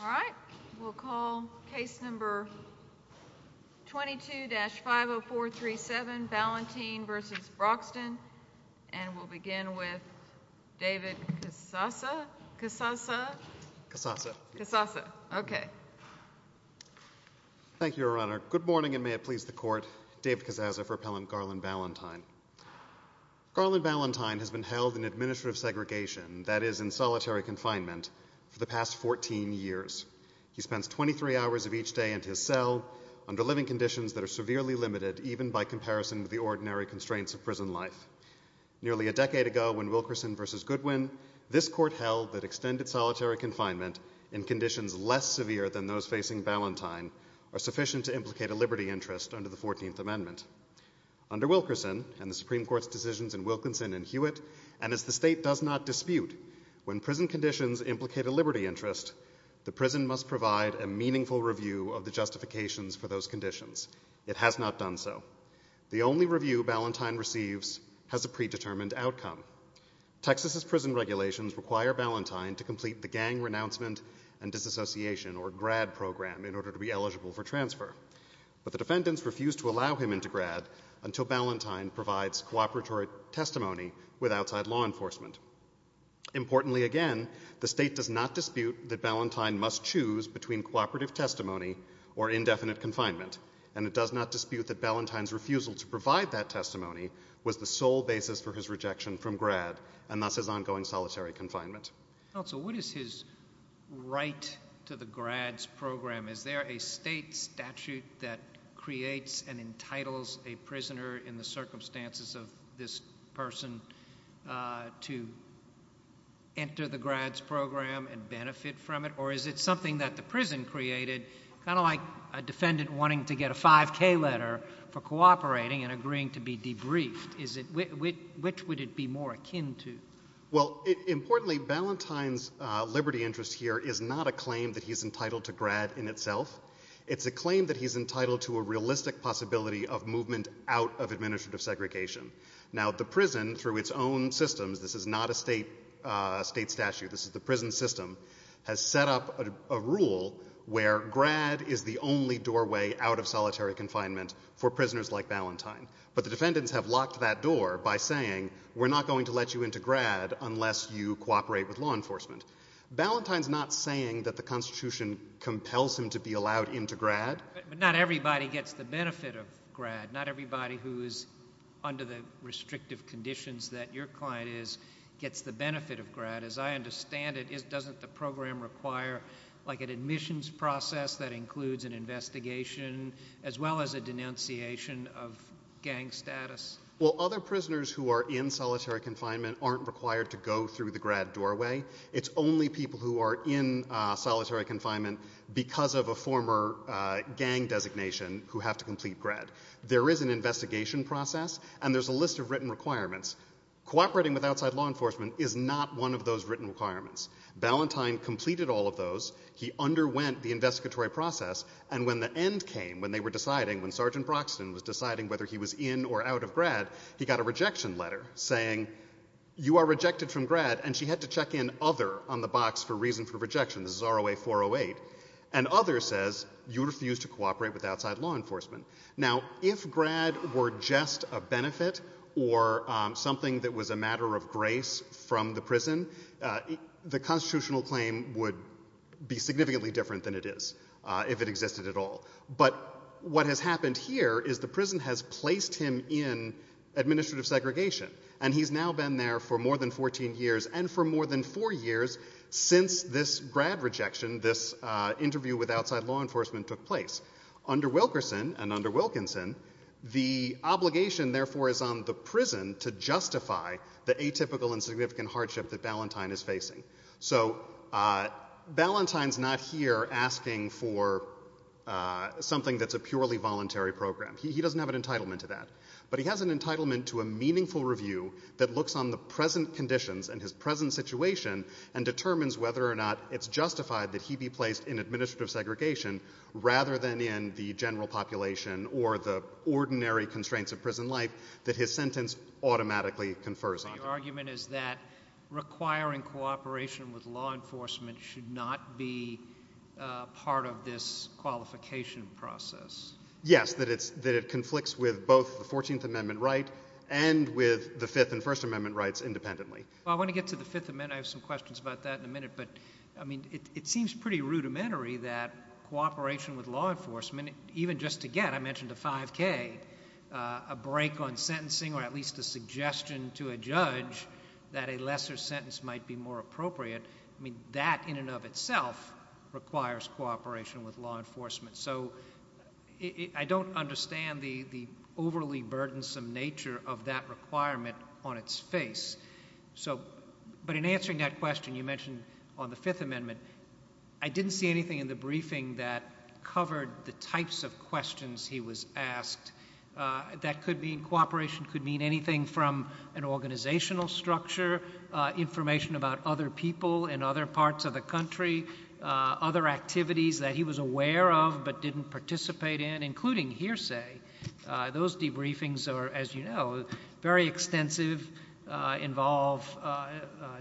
All right, we'll call case number 22-50437, Valentine v. Broxton, and we'll begin with David Cassasa. Cassasa. Cassasa. Cassasa. Cassasa. Okay. Thank you, Your Honor. Good morning, and may it please the Court, David Cassasa for Appellant Garland-Valentine. Garland-Valentine has been held in administrative segregation, that is, in solitary confinement for the past 14 years. He spends 23 hours of each day in his cell under living conditions that are severely limited even by comparison to the ordinary constraints of prison life. Nearly a decade ago, when Wilkerson v. Goodwin, this Court held that extended solitary confinement in conditions less severe than those facing Valentine are sufficient to implicate a liberty interest under the 14th Amendment. Under Wilkerson and the Supreme Court's decisions in Wilkinson and Hewitt, and as the State does not dispute when prison conditions implicate a liberty interest, the prison must provide a meaningful review of the justifications for those conditions. It has not done so. The only review Valentine receives has a predetermined outcome. Texas' prison regulations require Valentine to complete the Gang Renouncement and Disassociation, or GRAD, program in order to be eligible for transfer, but the defendants refuse to allow him into GRAD until Valentine provides cooperatory testimony with outside law enforcement. Importantly, again, the State does not dispute that Valentine must choose between cooperative testimony or indefinite confinement, and it does not dispute that Valentine's refusal to provide that testimony was the sole basis for his rejection from GRAD, and thus his ongoing solitary confinement. Counsel, what is his right to the GRAD's program? Is there a State statute that creates and entitles a prisoner in the circumstances of this person to enter the GRAD's program and benefit from it, or is it something that the prison created, kind of like a defendant wanting to get a 5K letter for cooperating and agreeing to be debriefed? Which would it be more akin to? Well, importantly, Valentine's liberty interest here is not a claim that he's entitled to itself, it's a claim that he's entitled to a realistic possibility of movement out of administrative segregation. Now, the prison, through its own systems, this is not a State statute, this is the prison system, has set up a rule where GRAD is the only doorway out of solitary confinement for prisoners like Valentine. But the defendants have locked that door by saying, we're not going to let you into GRAD unless you cooperate with law enforcement. Valentine's not saying that the Constitution compels him to be allowed into GRAD. Not everybody gets the benefit of GRAD. Not everybody who is under the restrictive conditions that your client is gets the benefit of GRAD. As I understand it, doesn't the program require, like, an admissions process that includes an investigation, as well as a denunciation of gang status? Well, other prisoners who are in solitary confinement aren't required to go through the GRAD doorway. It's only people who are in solitary confinement because of a former gang designation who have to complete GRAD. There is an investigation process, and there's a list of written requirements. Cooperating with outside law enforcement is not one of those written requirements. Valentine completed all of those. He underwent the investigatory process. And when the end came, when they were deciding, when Sergeant Broxton was deciding whether he was in or out of GRAD, he got a rejection letter saying, you are rejected from GRAD. And she had to check in other on the box for reason for rejection. This is ROA 408. And other says, you refuse to cooperate with outside law enforcement. Now, if GRAD were just a benefit or something that was a matter of grace from the prison, the constitutional claim would be significantly different than it is, if it existed at all. But what has happened here is the prison has placed him in administrative segregation. And he's now been there for more than 14 years and for more than four years since this GRAD rejection, this interview with outside law enforcement took place. Under Wilkerson and under Wilkinson, the obligation, therefore, is on the prison to justify the atypical and significant hardship that Valentine is facing. So Valentine's not here asking for something that's a purely voluntary program. He doesn't have an entitlement to that. But he has an entitlement to a meaningful review that looks on the present conditions and his present situation and determines whether or not it's justified that he be placed in administrative segregation rather than in the general population or the ordinary constraints of prison life that his sentence automatically confers on him. Your argument is that requiring cooperation with law enforcement should not be part of this qualification process. Yes, that it conflicts with both the 14th Amendment right and with the Fifth and First Amendment rights independently. Well, I want to get to the Fifth Amendment. I have some questions about that in a minute. But, I mean, it seems pretty rudimentary that cooperation with law enforcement, even just to get, I mentioned the 5K, a break on sentencing or at least a suggestion to a judge that a lesser sentence might be more appropriate, I mean, that in and of itself requires cooperation with law enforcement. So, I don't understand the overly burdensome nature of that requirement on its face. So, but in answering that question you mentioned on the Fifth Amendment, I didn't see anything in the briefing that covered the types of questions he was asked. That could mean cooperation could mean anything from an organizational structure, information about other people in other parts of the country, other activities that he was aware of but didn't participate in, including hearsay. Those debriefings are, as you know, very extensive, involve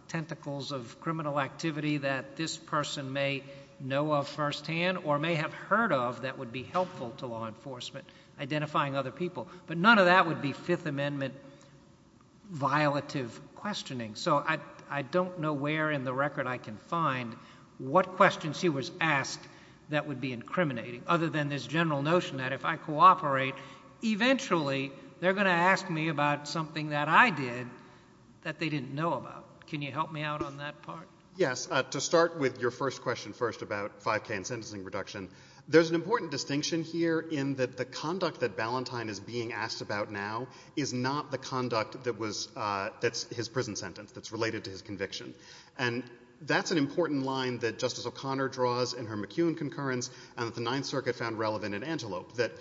tentacles of criminal activity that this person may know of firsthand or may have heard of that would be helpful to law enforcement, identifying other people. But none of that would be Fifth Amendment violative questioning. So, I don't know where in the record I can find what questions he was asked that would be incriminating other than this general notion that if I cooperate, eventually they're going to ask me about something that I did that they didn't know about. Can you help me out on that part? Yes. To start with your first question first about 5K and sentencing reduction, there's an important distinction here in that the conduct that Ballantyne is being asked about now is not the conduct that's his prison sentence, that's related to his conviction. And that's an important line that Justice O'Connor draws in her McEwen concurrence and that the Ninth Circuit found relevant in Antelope, that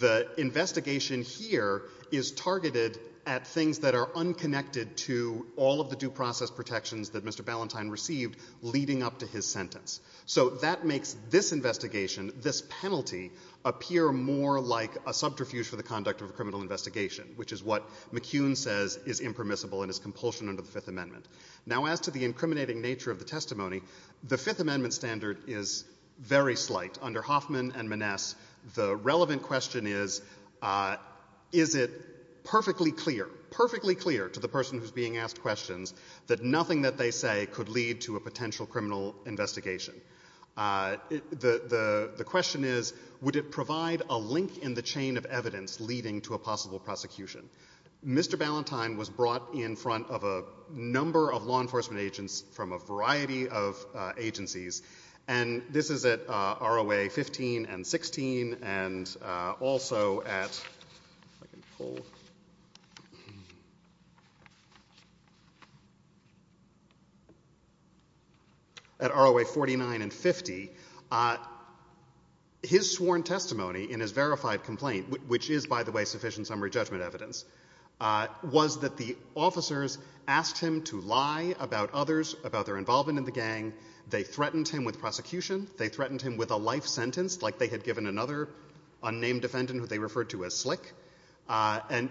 the investigation here is targeted at things that are unconnected to all of the due process protections that Mr. Ballantyne received leading up to his sentence. So, that makes this investigation, this penalty, appear more like a subterfuge for the conduct of a criminal investigation, which is what McEwen says is impermissible and is compulsion under the Fifth Amendment. Now, as to the incriminating nature of the testimony, the Fifth Amendment standard is very slight under Hoffman and Maness. The relevant question is, is it perfectly clear, perfectly clear to the person who's being asked questions that nothing that they say could lead to a potential criminal investigation? The question is, would it provide a link in the chain of evidence leading to a possible prosecution? Mr. Ballantyne was brought in front of a number of law enforcement agents from a variety of agencies, and this is at ROA 15 and 16, and also at, if I can pull, at ROA 49, and 50, his sworn testimony in his verified complaint, which is, by the way, sufficient summary judgment evidence, was that the officers asked him to lie about others, about their involvement in the gang, they threatened him with prosecution, they threatened him with a life sentence, like they had given another unnamed defendant who they referred to as slick. And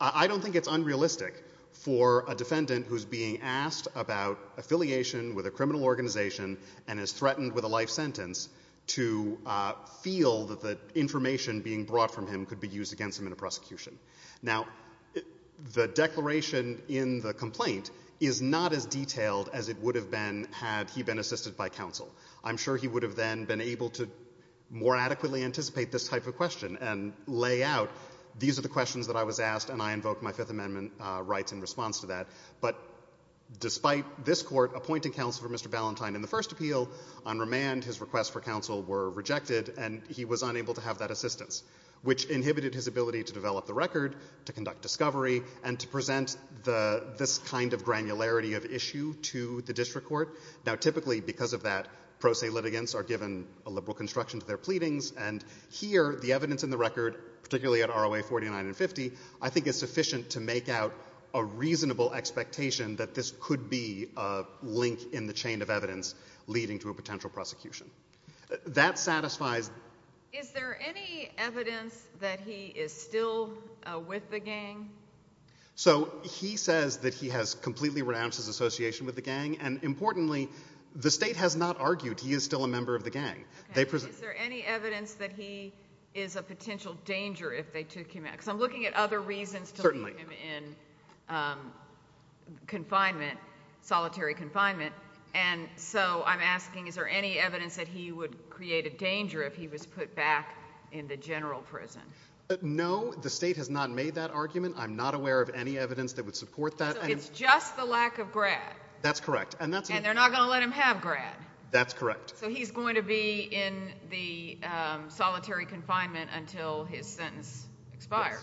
I don't think it's unrealistic for a defendant who's being asked about affiliation with a criminal organization and is threatened with a life sentence to feel that the information being brought from him could be used against him in a prosecution. Now, the declaration in the complaint is not as detailed as it would have been had he been assisted by counsel. I'm sure he would have then been able to more adequately anticipate this type of question and lay out, these are the questions that I was asked and I invoked my Fifth Amendment rights in response to that. But despite this court appointing counsel for Mr. Ballentine in the first appeal, on remand, his requests for counsel were rejected and he was unable to have that assistance, which inhibited his ability to develop the record, to conduct discovery, and to present this kind of granularity of issue to the district court. Now, typically, because of that, pro se litigants are given a liberal construction to their pleadings, and here, the evidence in the record, particularly at ROA 49 and 50, I think is sufficient to make out a reasonable expectation that this could be a link in the chain of evidence leading to a potential prosecution. That satisfies. Is there any evidence that he is still with the gang? So, he says that he has completely renounced his association with the gang, and importantly, the state has not argued he is still a member of the gang. Is there any evidence that he is a potential danger if they took him out? Because I'm looking at other reasons to leave him in confinement, solitary confinement, and so I'm asking, is there any evidence that he would create a danger if he was put back in the general prison? No, the state has not made that argument. I'm not aware of any evidence that would support that. So, it's just the lack of grad? That's correct. And they're not going to let him have grad? That's correct. So, he's going to be in the solitary confinement until his sentence expires?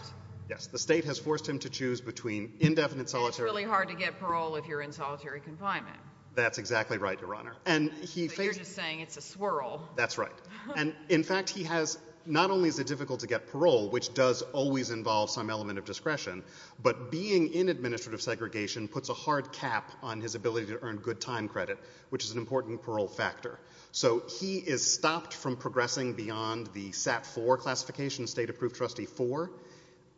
Yes, the state has forced him to choose between indefinite solitary. It's really hard to get parole if you're in solitary confinement. That's exactly right, Your Honor. But you're just saying it's a swirl. That's right. And in fact, not only is it difficult to get parole, which does always involve some element of discretion, but being in administrative segregation puts a hard cap on his ability to earn good time credit, which is an important parole factor. So, he is stopped from progressing beyond the SAT 4 classification, state-approved trustee 4,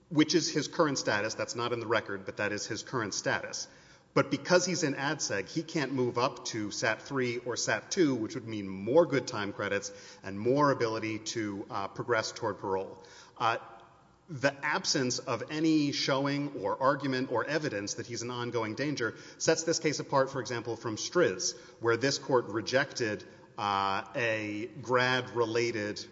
which is his current status. That's not in the record, but that is his current status. But because he's in ADSEG, he can't move up to SAT 3 or SAT 2, which would mean more good time credits and more ability to progress toward parole. The absence of any showing or argument or evidence that he's an ongoing danger sets this case apart, for example, from STRS, where this court rejected a grad-related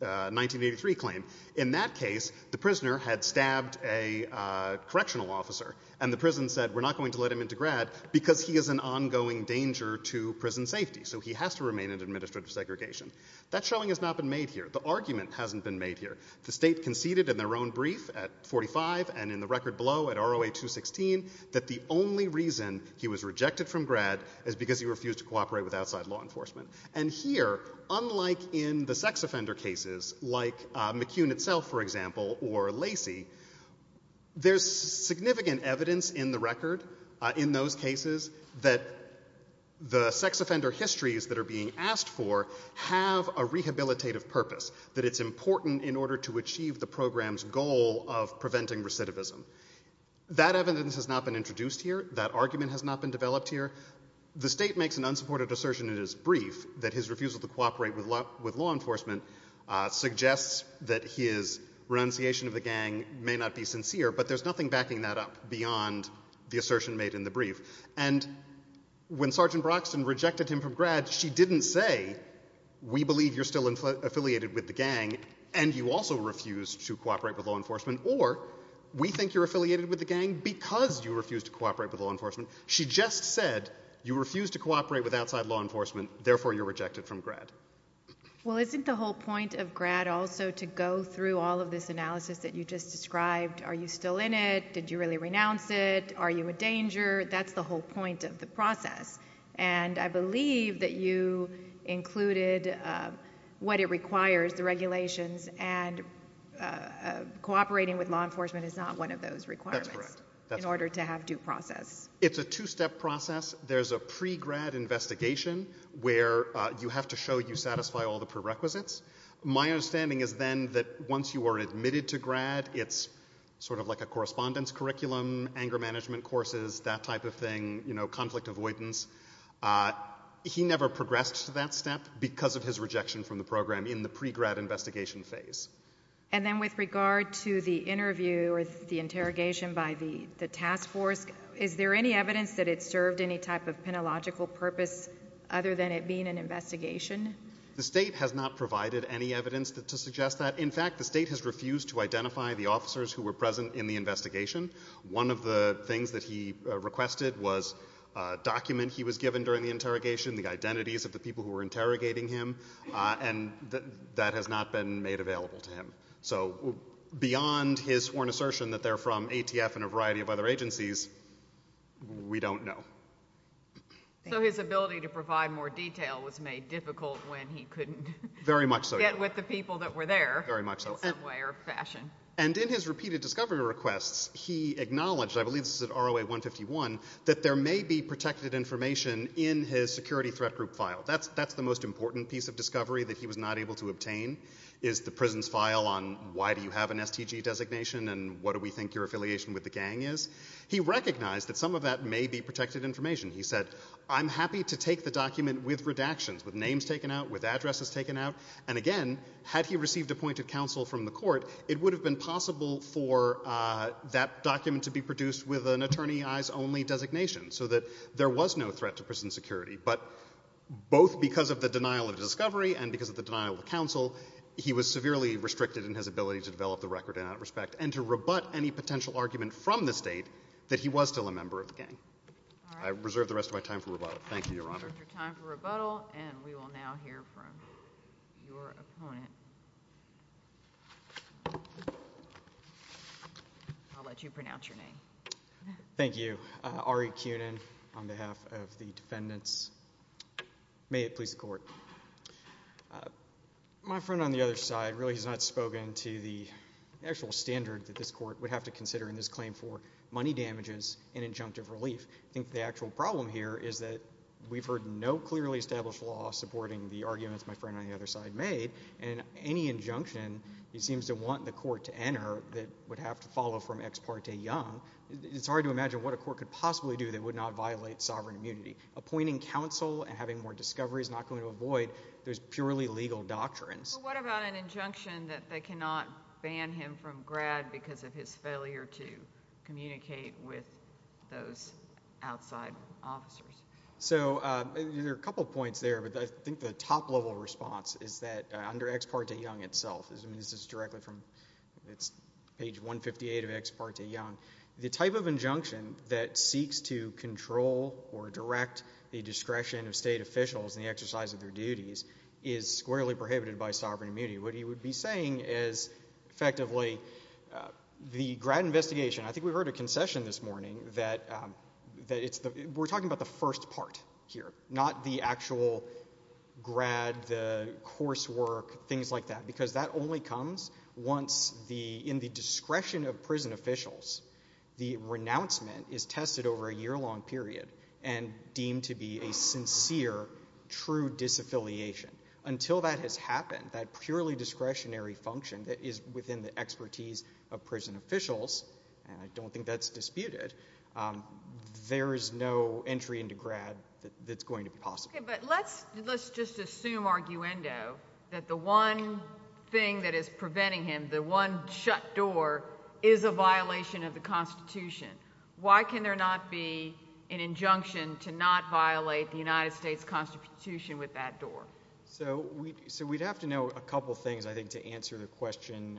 1983 claim. In that case, the prisoner had stabbed a correctional officer, and the prison said, we're not going to let him into grad because he is an ongoing danger to prison safety. So, he has to remain in administrative segregation. That showing has not been made here. The argument hasn't been made here. The state conceded in their own brief at 45 and in the record below at ROA 216 that the only reason he was rejected from grad is because he refused to cooperate with outside law enforcement. And here, unlike in the sex offender cases, like McCune itself, for example, or Lacey, there's significant evidence in the record, in those cases, that the sex offender histories that are being asked for have a rehabilitative purpose, that it's important in order to achieve the program's goal of preventing recidivism. That evidence has not been introduced here. That argument has not been developed here. The state makes an unsupported assertion in its brief that his refusal to cooperate with law enforcement suggests that his renunciation of the gang may not be sincere, but there's nothing backing that up beyond the assertion made in the brief. And when Sergeant Broxton rejected him from grad, she didn't say, we believe you're still affiliated with the gang, and you also refuse to cooperate with law enforcement, or we think you're affiliated with the gang because you refuse to cooperate with law enforcement. She just said you refuse to cooperate with outside law enforcement, therefore you're rejected from grad. Well, isn't the whole point of grad also to go through all of this analysis that you just described? Are you still in it? Did you really renounce it? Are you a danger? That's the whole point of the process. And I believe that you included what it requires, the regulations, and cooperating with law enforcement is not one of those requirements in order to have due process. It's a two-step process. There's a pre-grad investigation where you have to show you satisfy all the prerequisites. My understanding is then that once you are admitted to grad, it's sort of like a correspondence curriculum, anger management courses, that type of thing, you know, conflict avoidance. He never progressed to that step because of his rejection from the program in the pre-grad investigation phase. And then with regard to the interview or the interrogation by the task force, is there any evidence that it served any type of penological purpose other than it being an investigation? The state has not provided any evidence to suggest that. In fact, the state has refused to identify the officers who were present in the investigation. One of the things that he requested was a document he was given during the interrogation, the identities of the people who were interrogating him, and that has not been made available to him. So beyond his sworn assertion that they're from ATF and a variety of other agencies, we don't know. So his ability to provide more detail was made difficult when he couldn't get with the people that were there in some way or fashion. And in his repeated discovery requests, he acknowledged, I believe this is at ROA 151, that there may be protected information in his security threat group file. That's the most important piece of discovery that he was not able to obtain, is the prison's file on why do you have an STG designation and what do we think your affiliation with the gang is. He recognized that some of that may be protected information. He said, I'm happy to take the document with redactions, with names taken out, with addresses taken out. And again, had he received appointed counsel from the court, it would have been possible for that document to be produced with an attorney-eyes-only designation, so that there was no threat to prison security. But both because of the denial of discovery and because of the denial of counsel, he was severely restricted in his ability to develop the record in that respect and to rebut any potential argument from the state that he was still a member of the gang. I reserve the rest of my time for rebuttal. Thank you, Your Honor. Your time for rebuttal. And we will now hear from your opponent. I'll let you pronounce your name. Thank you. Ari Kunin on behalf of the defendants. May it please the court. My friend on the other side really has not spoken to the actual standard that this court would have to consider in this claim for money damages and injunctive relief. I think the actual problem here is that we've heard no clearly established law supporting the arguments my friend on the other side made. And any injunction he seems to want the court to enter that would have to follow from ex parte young it's hard to imagine what a court could possibly do that would not violate sovereign immunity. Appointing counsel and having more discovery is not going to avoid those purely legal doctrines. What about an injunction that they cannot ban him from grad because of his failure to communicate with those outside officers? So there are a couple of points there, but I think the top level response is that under ex parte young itself, this is directly from page 158 of ex parte young, the type of injunction that seeks to control or direct the discretion of state officials in the exercise of their duties is squarely prohibited by sovereign immunity. What he would be saying is effectively the grad investigation, I think we heard a concession this morning, that we're talking about the first part here, not the actual grad, the coursework, things like that, because that only comes in the discretion of prison officials. The renouncement is tested over a year-long period and deemed to be a sincere, true disaffiliation. Until that has happened, that purely discretionary function that is within the expertise of prison officials, and I don't think that's disputed, there is no entry into grad that's going to be possible. But let's just assume, arguendo, that the one thing that is preventing him, the one shut door, is a violation of the Constitution. Why can there not be an injunction to not violate the United States Constitution with that door? So we'd have to know a couple things, I think, to answer the question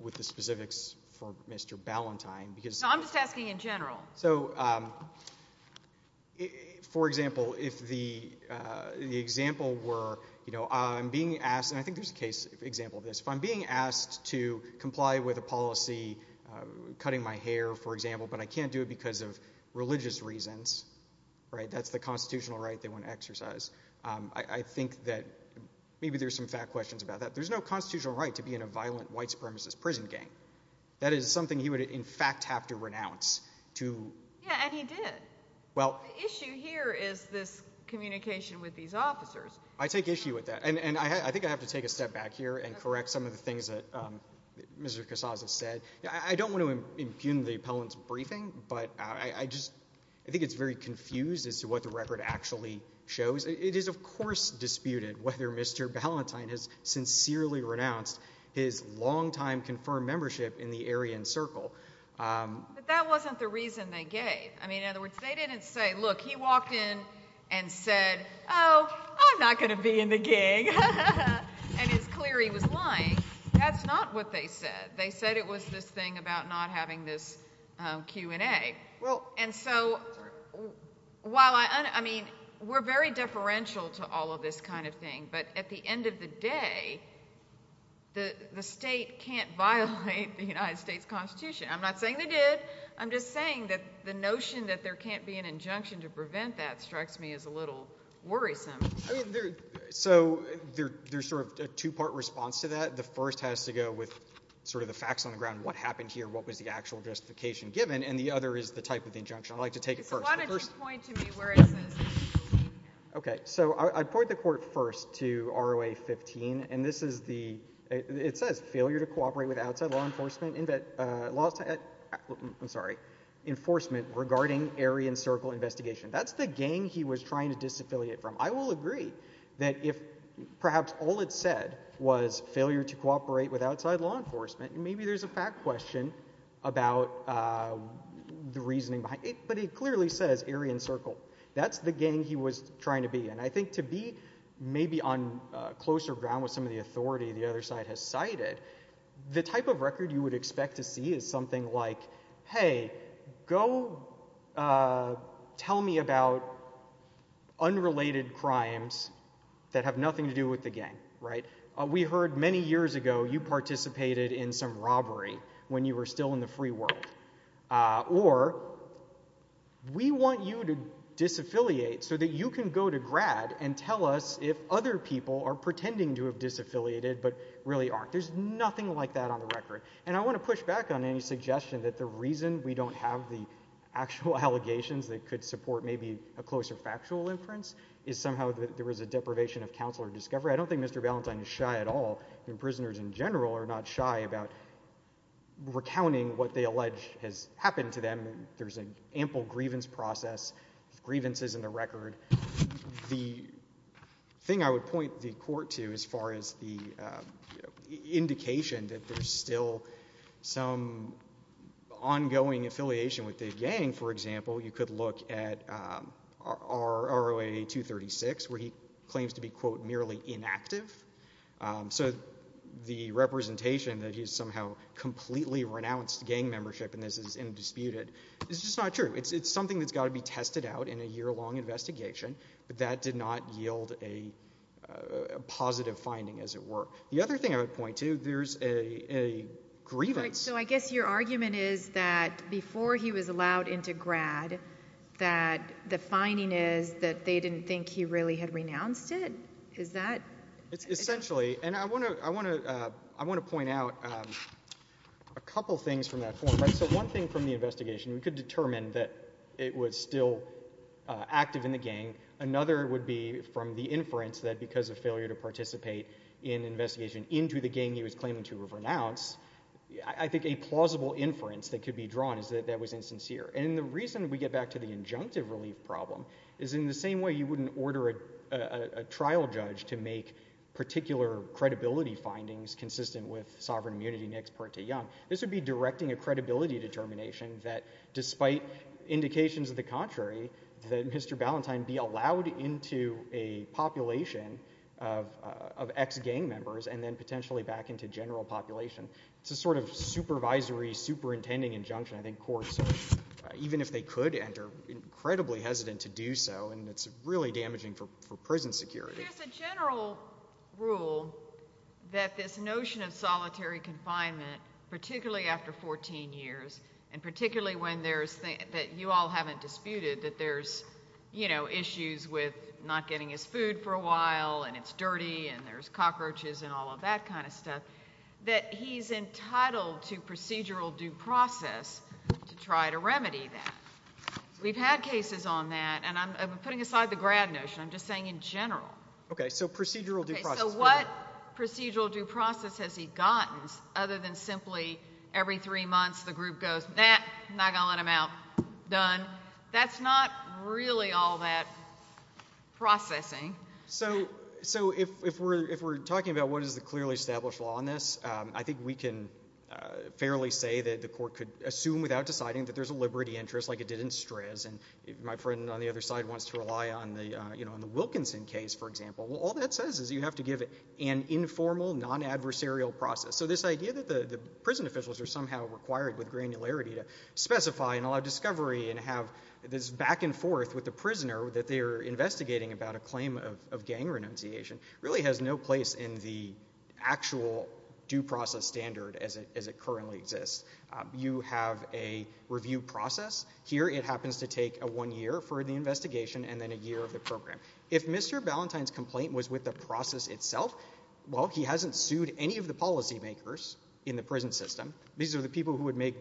with the specifics for Mr. Ballantyne. I'm just asking in general. So, for example, if the example were, you know, I'm being asked, and I think there's a case example of this, if I'm being asked to comply with a policy, cutting my hair, for example, but I can't do it because of religious reasons, right? That's the constitutional right they want to exercise. I think that maybe there's some fact questions about that. There's no constitutional right to be in a violent white supremacist prison gang. That is something he would, in fact, have to renounce to... Yeah, and he did. Well... The issue here is this communication with these officers. I take issue with that. And I think I have to take a step back here and correct some of the things that Mr. Casas has said. I don't want to impugn the appellant's briefing, but I just, I think it's very confused as to what the record actually shows. It is, of course, disputed whether Mr. Ballantyne has sincerely renounced his longtime confirmed membership in the Aryan Circle. But that wasn't the reason they gave. I mean, in other words, they didn't say, look, he walked in and said, oh, I'm not going to be in the gang. And it's clear he was lying. That's not what they said. They said it was this thing about not having this Q&A. Well, and so while I mean, we're very differential to all of this kind of thing, but at the end of the day, the state can't violate the United States Constitution. I'm not saying they did. I'm just saying that the notion that there can't be an injunction to prevent that strikes me as a little worrisome. I mean, so there's sort of a two-part response to that. The first has to go with sort of the facts on the ground. What happened here? What was the actual justification given? And the other is the type of injunction. I'd like to take it first. So why don't you point to me where it says 15? Okay, so I'd point the court first to ROA 15. And this is the, it says, failure to cooperate with outside law enforcement, I'm sorry, enforcement regarding Aryan Circle investigation. That's the gang he was trying to disaffiliate from. I will agree that if perhaps all it said was failure to cooperate with outside law enforcement, maybe there's a fact question about the reasoning behind it. But it clearly says Aryan Circle. That's the gang he was trying to be in. I think to be maybe on closer ground with some of the authority the other side has cited, the type of record you would expect to see is something like, hey, go tell me about unrelated crimes that have nothing to do with the gang, right? We heard many years ago you participated in some robbery when you were still in the free world. Or we want you to disaffiliate so that you can go to grad and tell us if other people are pretending to have disaffiliated but really aren't. There's nothing like that on the record. And I want to push back on any suggestion that the reason we don't have the actual allegations that could support maybe a closer factual inference is somehow that there was a deprivation of counsel or discovery. I don't think Mr. Ballantyne is shy at all, and prisoners in general are not shy about recounting what they allege has happened to them. There's an ample grievance process, grievances in the record. The thing I would point the court to as far as the indication that there's still some ongoing affiliation with the gang, for example, you could look at ROA 236 where he claims to be, quote, merely inactive. So the representation that he's somehow completely renounced gang membership and this is indisputed is just not true. It's something that's got to be tested out in a year-long investigation, but that did not yield a positive finding, as it were. The other thing I would point to, there's a grievance. So I guess your argument is that before he was allowed into grad, that the finding is that they didn't think he really had renounced it? Is that... Essentially, and I want to point out a couple things from that form. So one thing from the investigation, we could determine that it was still active in the gang. Another would be from the inference that because of failure to participate in investigation into the gang he was claiming to have renounced, I think a plausible inference that could be drawn is that that was insincere. And the reason we get back to the injunctive relief problem is in the same way you wouldn't order a trial judge to make particular credibility findings consistent with sovereign immunity next part to young. This would be directing a credibility determination that despite indications of the contrary, that Mr. Ballantyne be allowed into a population of ex-gang members and then potentially back into general population. It's a sort of supervisory superintending injunction. I think courts, even if they could enter, incredibly hesitant to do so. And it's really damaging for prison security. There's a general rule that this notion of solitary confinement, particularly after 14 years, and particularly when there's that you all haven't disputed that there's, you know, issues with not getting his food for a while and it's dirty and there's cockroaches and all of that kind of stuff, that he's entitled to procedural due process to try to remedy that. We've had cases on that. And I'm putting aside the grad notion. I'm just saying in general. Okay, so procedural due process. So what procedural due process has he gotten other than simply every three months the group goes, nah, not gonna let him out, done. That's not really all that processing. So if we're talking about what is the clearly established law on this, I think we can fairly say that the court could assume without deciding that there's a liberty interest like it did in STRS. And my friend on the other side wants to rely on the, you know, on the Wilkinson case, for example. Well, all that says is you have to give it an informal, non-adversarial process. So this idea that the prison officials are somehow required with granularity to specify and allow discovery and have this back and forth with the prisoner that they're investigating about a claim of gang renunciation really has no place in the actual due process standard as it currently exists. You have a review process. Here it happens to take a one year for the investigation and then a year of the program. If Mr. Ballentine's complaint was with the process itself, well, he hasn't sued any of the policymakers in the prison system. These are the people who would make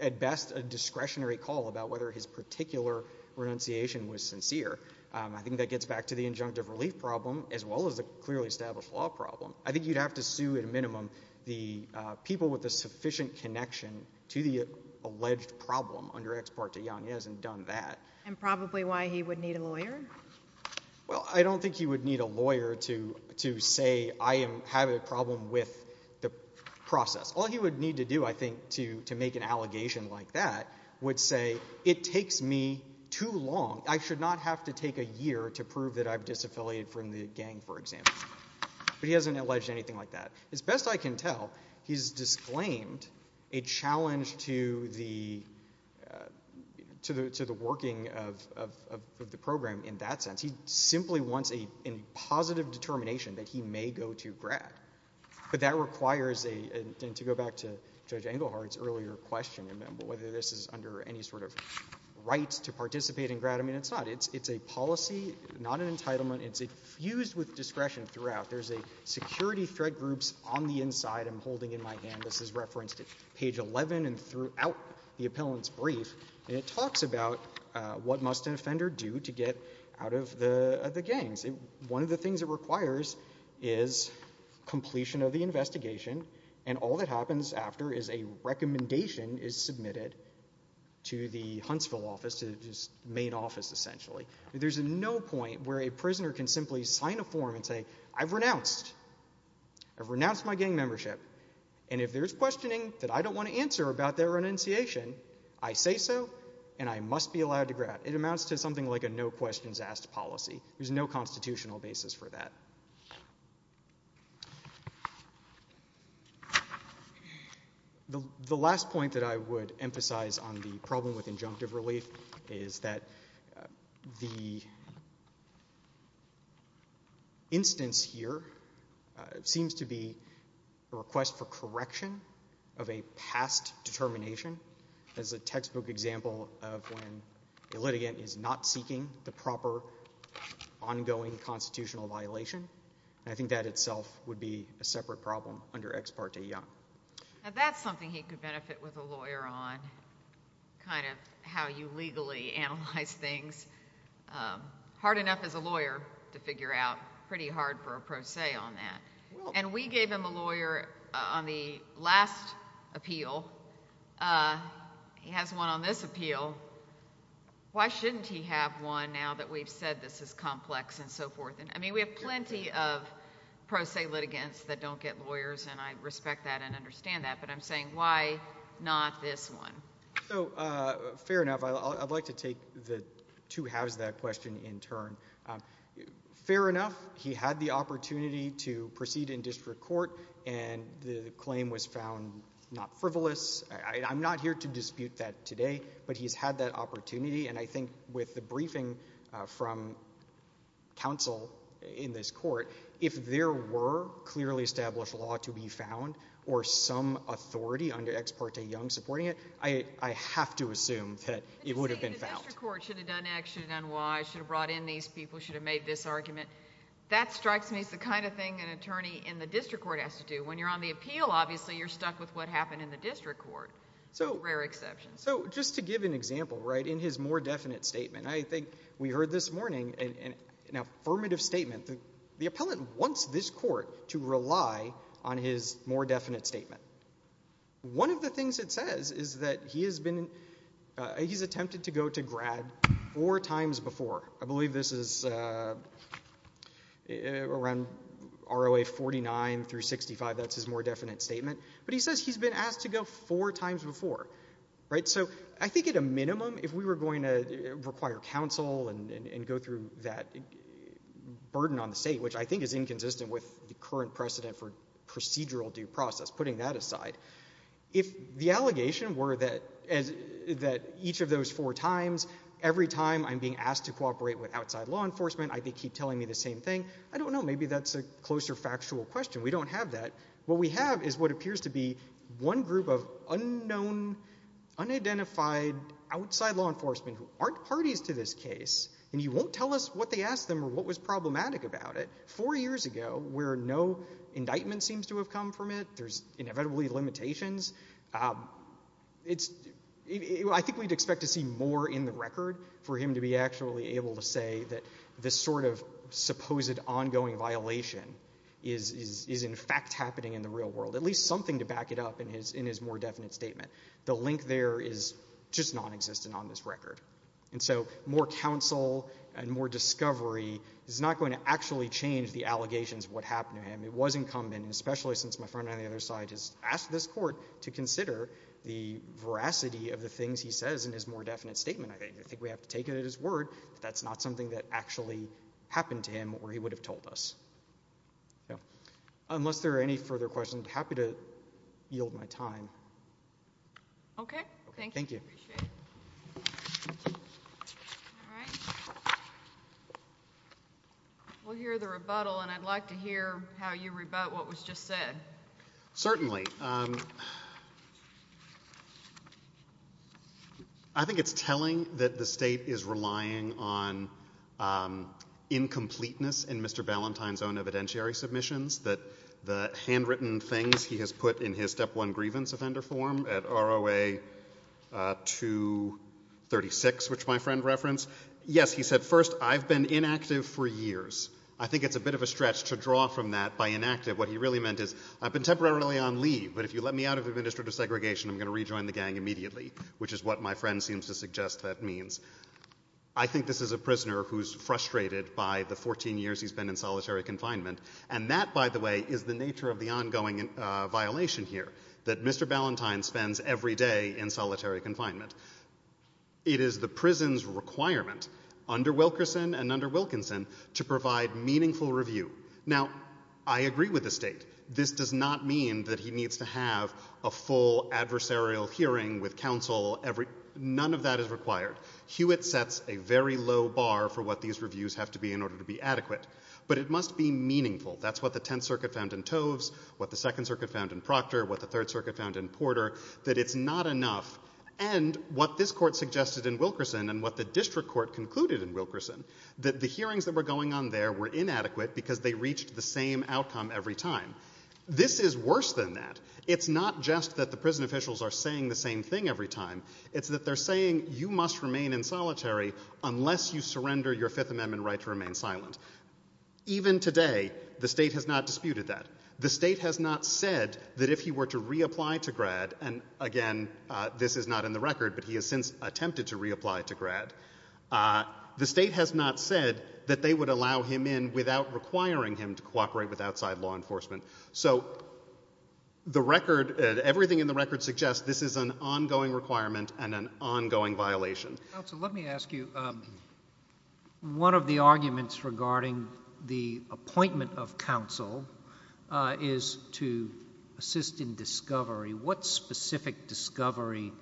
at best a discretionary call about whether his particular renunciation was sincere. I think that gets back to the injunctive relief problem as well as the clearly established law problem. I think you'd have to sue at a minimum the people with a sufficient connection to the alleged problem under Ex parte Young. He hasn't done that. And probably why he would need a lawyer? Well, I don't think he would need a lawyer to say I have a problem with the process. All he would need to do, I think, to make an allegation like that would say it takes me too long. I should not have to take a year to prove that I've disaffiliated from the gang, for example. But he hasn't alleged anything like that. As best I can tell, he's disclaimed a challenge to the working of the program in that sense. He simply wants a positive determination that he may go to Grad. But that requires, and to go back to Judge Engelhardt's earlier question, whether this is under any sort of right to participate in Grad. I mean, it's not. It's a policy, not an entitlement. It's fused with discretion throughout. There's security threat groups on the inside I'm holding in my hand. This is referenced at page 11 and throughout the appellant's brief. And it talks about what must an offender do to get out of the gangs. One of the things it requires is completion of the investigation. And all that happens after is a recommendation is submitted to the Huntsville office, to his main office, essentially. There's no point where a prisoner can simply sign a form and say, I've renounced. I've renounced my gang membership. And if there's questioning that I don't want to answer about their renunciation, I say so, and I must be allowed to Grad. It amounts to something like a no-questions-asked policy. There's no constitutional basis for that. The last point that I would emphasize on the problem with injunctive relief is that the instance here seems to be a request for correction of a past determination as a textbook example of when a litigant is not seeking the proper ongoing constitutional violation. And I think that itself would be a separate problem under Ex Parte Young. That's something he could benefit with a lawyer on, kind of how you legally analyze things. Hard enough as a lawyer to figure out. Pretty hard for a pro se on that. And we gave him a lawyer on the last appeal. He has one on this appeal. Why shouldn't he have one now that we've said this is complex and so forth? And I mean, we have plenty of pro se litigants that don't get lawyers, and I respect that and understand that. But I'm saying why not this one? So fair enough. I'd like to take the two halves of that question in turn. Fair enough. He had the opportunity to proceed in district court, and the claim was found not frivolous. I'm not here to dispute that today, but he's had that opportunity. And I think with the briefing from counsel in this court, if there were clearly established law to be found, or some authority under Ex Parte Young supporting it, I have to assume that it would have been found. You say the district court should have done X, should have done Y, should have brought in these people, should have made this argument. That strikes me as the kind of thing an attorney in the district court has to do. When you're on the appeal, obviously, you're stuck with what happened in the district court, with rare exceptions. So just to give an example, right, in his more definite statement, I think we heard this morning an affirmative statement. The appellant wants this court to rely on his more definite statement. One of the things it says is that he's attempted to go to grad four times before. I believe this is around ROA 49 through 65. That's his more definite statement. But he says he's been asked to go four times before, right? So I think at a minimum, if we were going to require counsel and go through that burden on the state, which I think is inconsistent with the current precedent for procedural due process, putting that aside, if the allegation were that each of those four times, every time I'm being asked to cooperate with outside law enforcement, I keep telling me the same thing, I don't know, maybe that's a closer factual question. We don't have that. What we have is what appears to be one group of unknown, unidentified outside law enforcement who aren't parties to this case, and he won't tell us what they asked them or what was problematic about it. Four years ago, where no indictment seems to have come from it, there's inevitably limitations, I think we'd expect to see more in the record for him to be actually able to say that this sort of supposed ongoing violation is in fact happening in the real world. At least something to back it up in his more definite statement. The link there is just non-existent on this record. And so more counsel and more discovery is not going to actually change the allegations of what happened to him. It was incumbent, especially since my friend on the other side has asked this court to consider the veracity of the things he says in his more definite statement. I think we have to take it at his word that that's not something that actually happened to him or he would have told us. Unless there are any further questions, I'm happy to yield my time. Okay, thank you. Thank you. We'll hear the rebuttal and I'd like to hear how you rebut what was just said. Certainly. I think it's telling that the state is relying on incompleteness in Mr. Ballantyne's own evidentiary submissions, that the handwritten things he has put in his step one grievance offender form at ROA 236, which my friend referenced. Yes, he said, first, I've been inactive for years. I think it's a bit of a stretch to draw from that by inactive. What he really meant is I've been temporarily on leave, but if you let me out of administrative segregation, I'm going to rejoin the gang immediately, which is what my friend seems to suggest that means. I think this is a prisoner who's frustrated by the 14 years he's been in solitary confinement. And that, by the way, is the nature of the ongoing violation here that Mr. Ballantyne spends every day in solitary confinement. It is the prison's requirement under Wilkerson and under Wilkinson to provide meaningful review. Now, I agree with the state. This does not mean that he needs to have a full adversarial hearing with counsel. None of that is required. Hewitt sets a very low bar for what these reviews have to be in order to be adequate. But it must be meaningful. That's what the Tenth Circuit found in Toves, what the Second Circuit found in Proctor, what the Third Circuit found in Porter, that it's not enough. And what this court suggested in Wilkerson and what the district court concluded in Wilkerson, that the hearings that were going on there were inadequate because they reached the same outcome every time. This is worse than that. It's not just that the prison officials are saying the same thing every time. It's that they're saying you must remain in solitary unless you surrender your Fifth Amendment right to remain silent. Even today, the state has not disputed that. The state has not said that if he were to reapply to grad, and again, this is not in the record, but he has since attempted to reapply to grad, the state has not said that they would allow him in without requiring him to cooperate with outside law enforcement. So the record, everything in the record suggests this is an ongoing requirement and an ongoing violation. Counsel, let me ask you, one of the arguments regarding the appointment of counsel is to assist in discovery. What specific discovery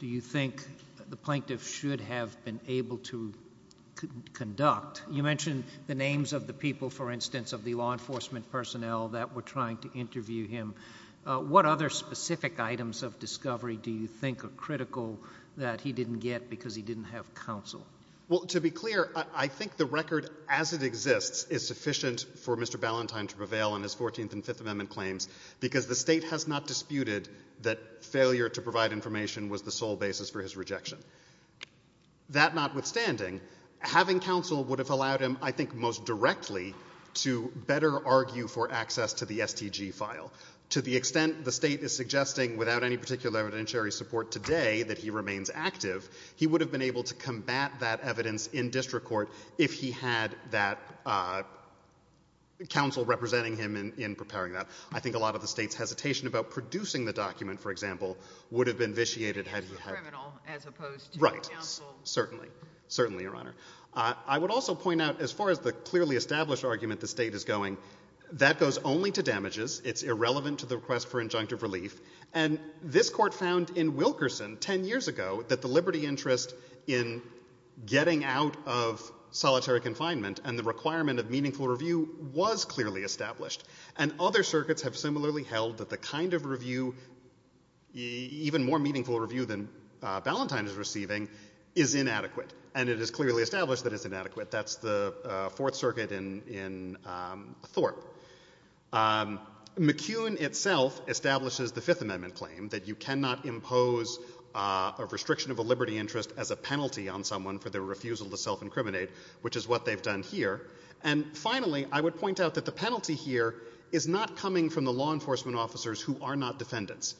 do you think the plaintiff should have been able to conduct? You mentioned the names of the people, for instance, of the law enforcement personnel that were trying to interview him. What other specific items of discovery do you think are critical that he didn't get because he didn't have counsel? Well, to be clear, I think the record as it exists is sufficient for Mr. Ballentine to prevail on his 14th and Fifth Amendment claims because the state has not disputed that failure to provide information was the sole basis for his rejection. That notwithstanding, having counsel would have allowed him, I think, most directly to better argue for access to the STG file. To the extent the state is suggesting without any particular evidentiary support today that he remains active, he would have been able to combat that evidence in district court if he had that counsel representing him in preparing that. I think a lot of the state's hesitation about producing the document, for example, would have been vitiated had he had... If he was a criminal as opposed to counsel. Right. Certainly. Certainly, Your Honor. I would also point out, as far as the clearly established argument the state is going, that goes only to damages. It's irrelevant to the request for injunctive relief. And this court found in Wilkerson 10 years ago that the liberty interest in getting out of solitary confinement and the requirement of meaningful review was clearly established. And other circuits have similarly held that the kind of review, even more meaningful review than Ballantyne is receiving, is inadequate. And it is clearly established that it's inadequate. That's the Fourth Circuit in Thorpe. McCune itself establishes the Fifth Amendment claim that you cannot impose a restriction of a liberty interest as a penalty on someone for their refusal to self-incriminate, which is what they've done here. And finally, I would point out that the penalty here is not coming from the law enforcement officers who are not defendants.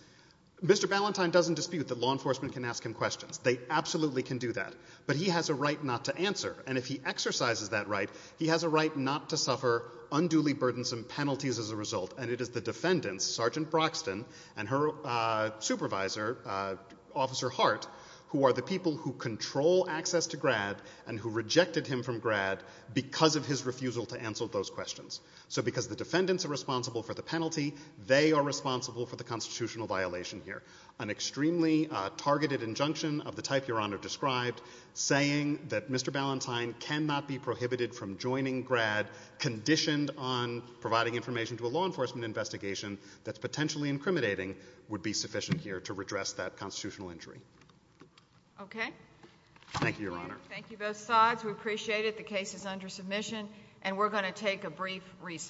Mr Ballantyne doesn't dispute that law enforcement can ask him questions. They absolutely can do that. But he has a right not to answer. And if he exercises that right, he has a right not to suffer unduly burdensome penalties as a result. And it is the defendants, Sergeant Broxton and her supervisor, Officer Hart, who are the people who control access to Grad and who rejected him from Grad because of his refusal to answer those questions. So because the defendants are responsible for the penalty, they are responsible for the constitutional violation here. An extremely targeted injunction of the type Your Honor described, saying that Mr Ballantyne cannot be prohibited from joining Grad conditioned on providing information to a law enforcement investigation that's potentially incriminating, would be sufficient here to redress that constitutional injury. Okay. Thank you, Your Honor. Thank you both sides. We appreciate it. The case is under submission and we're going to take a brief recess.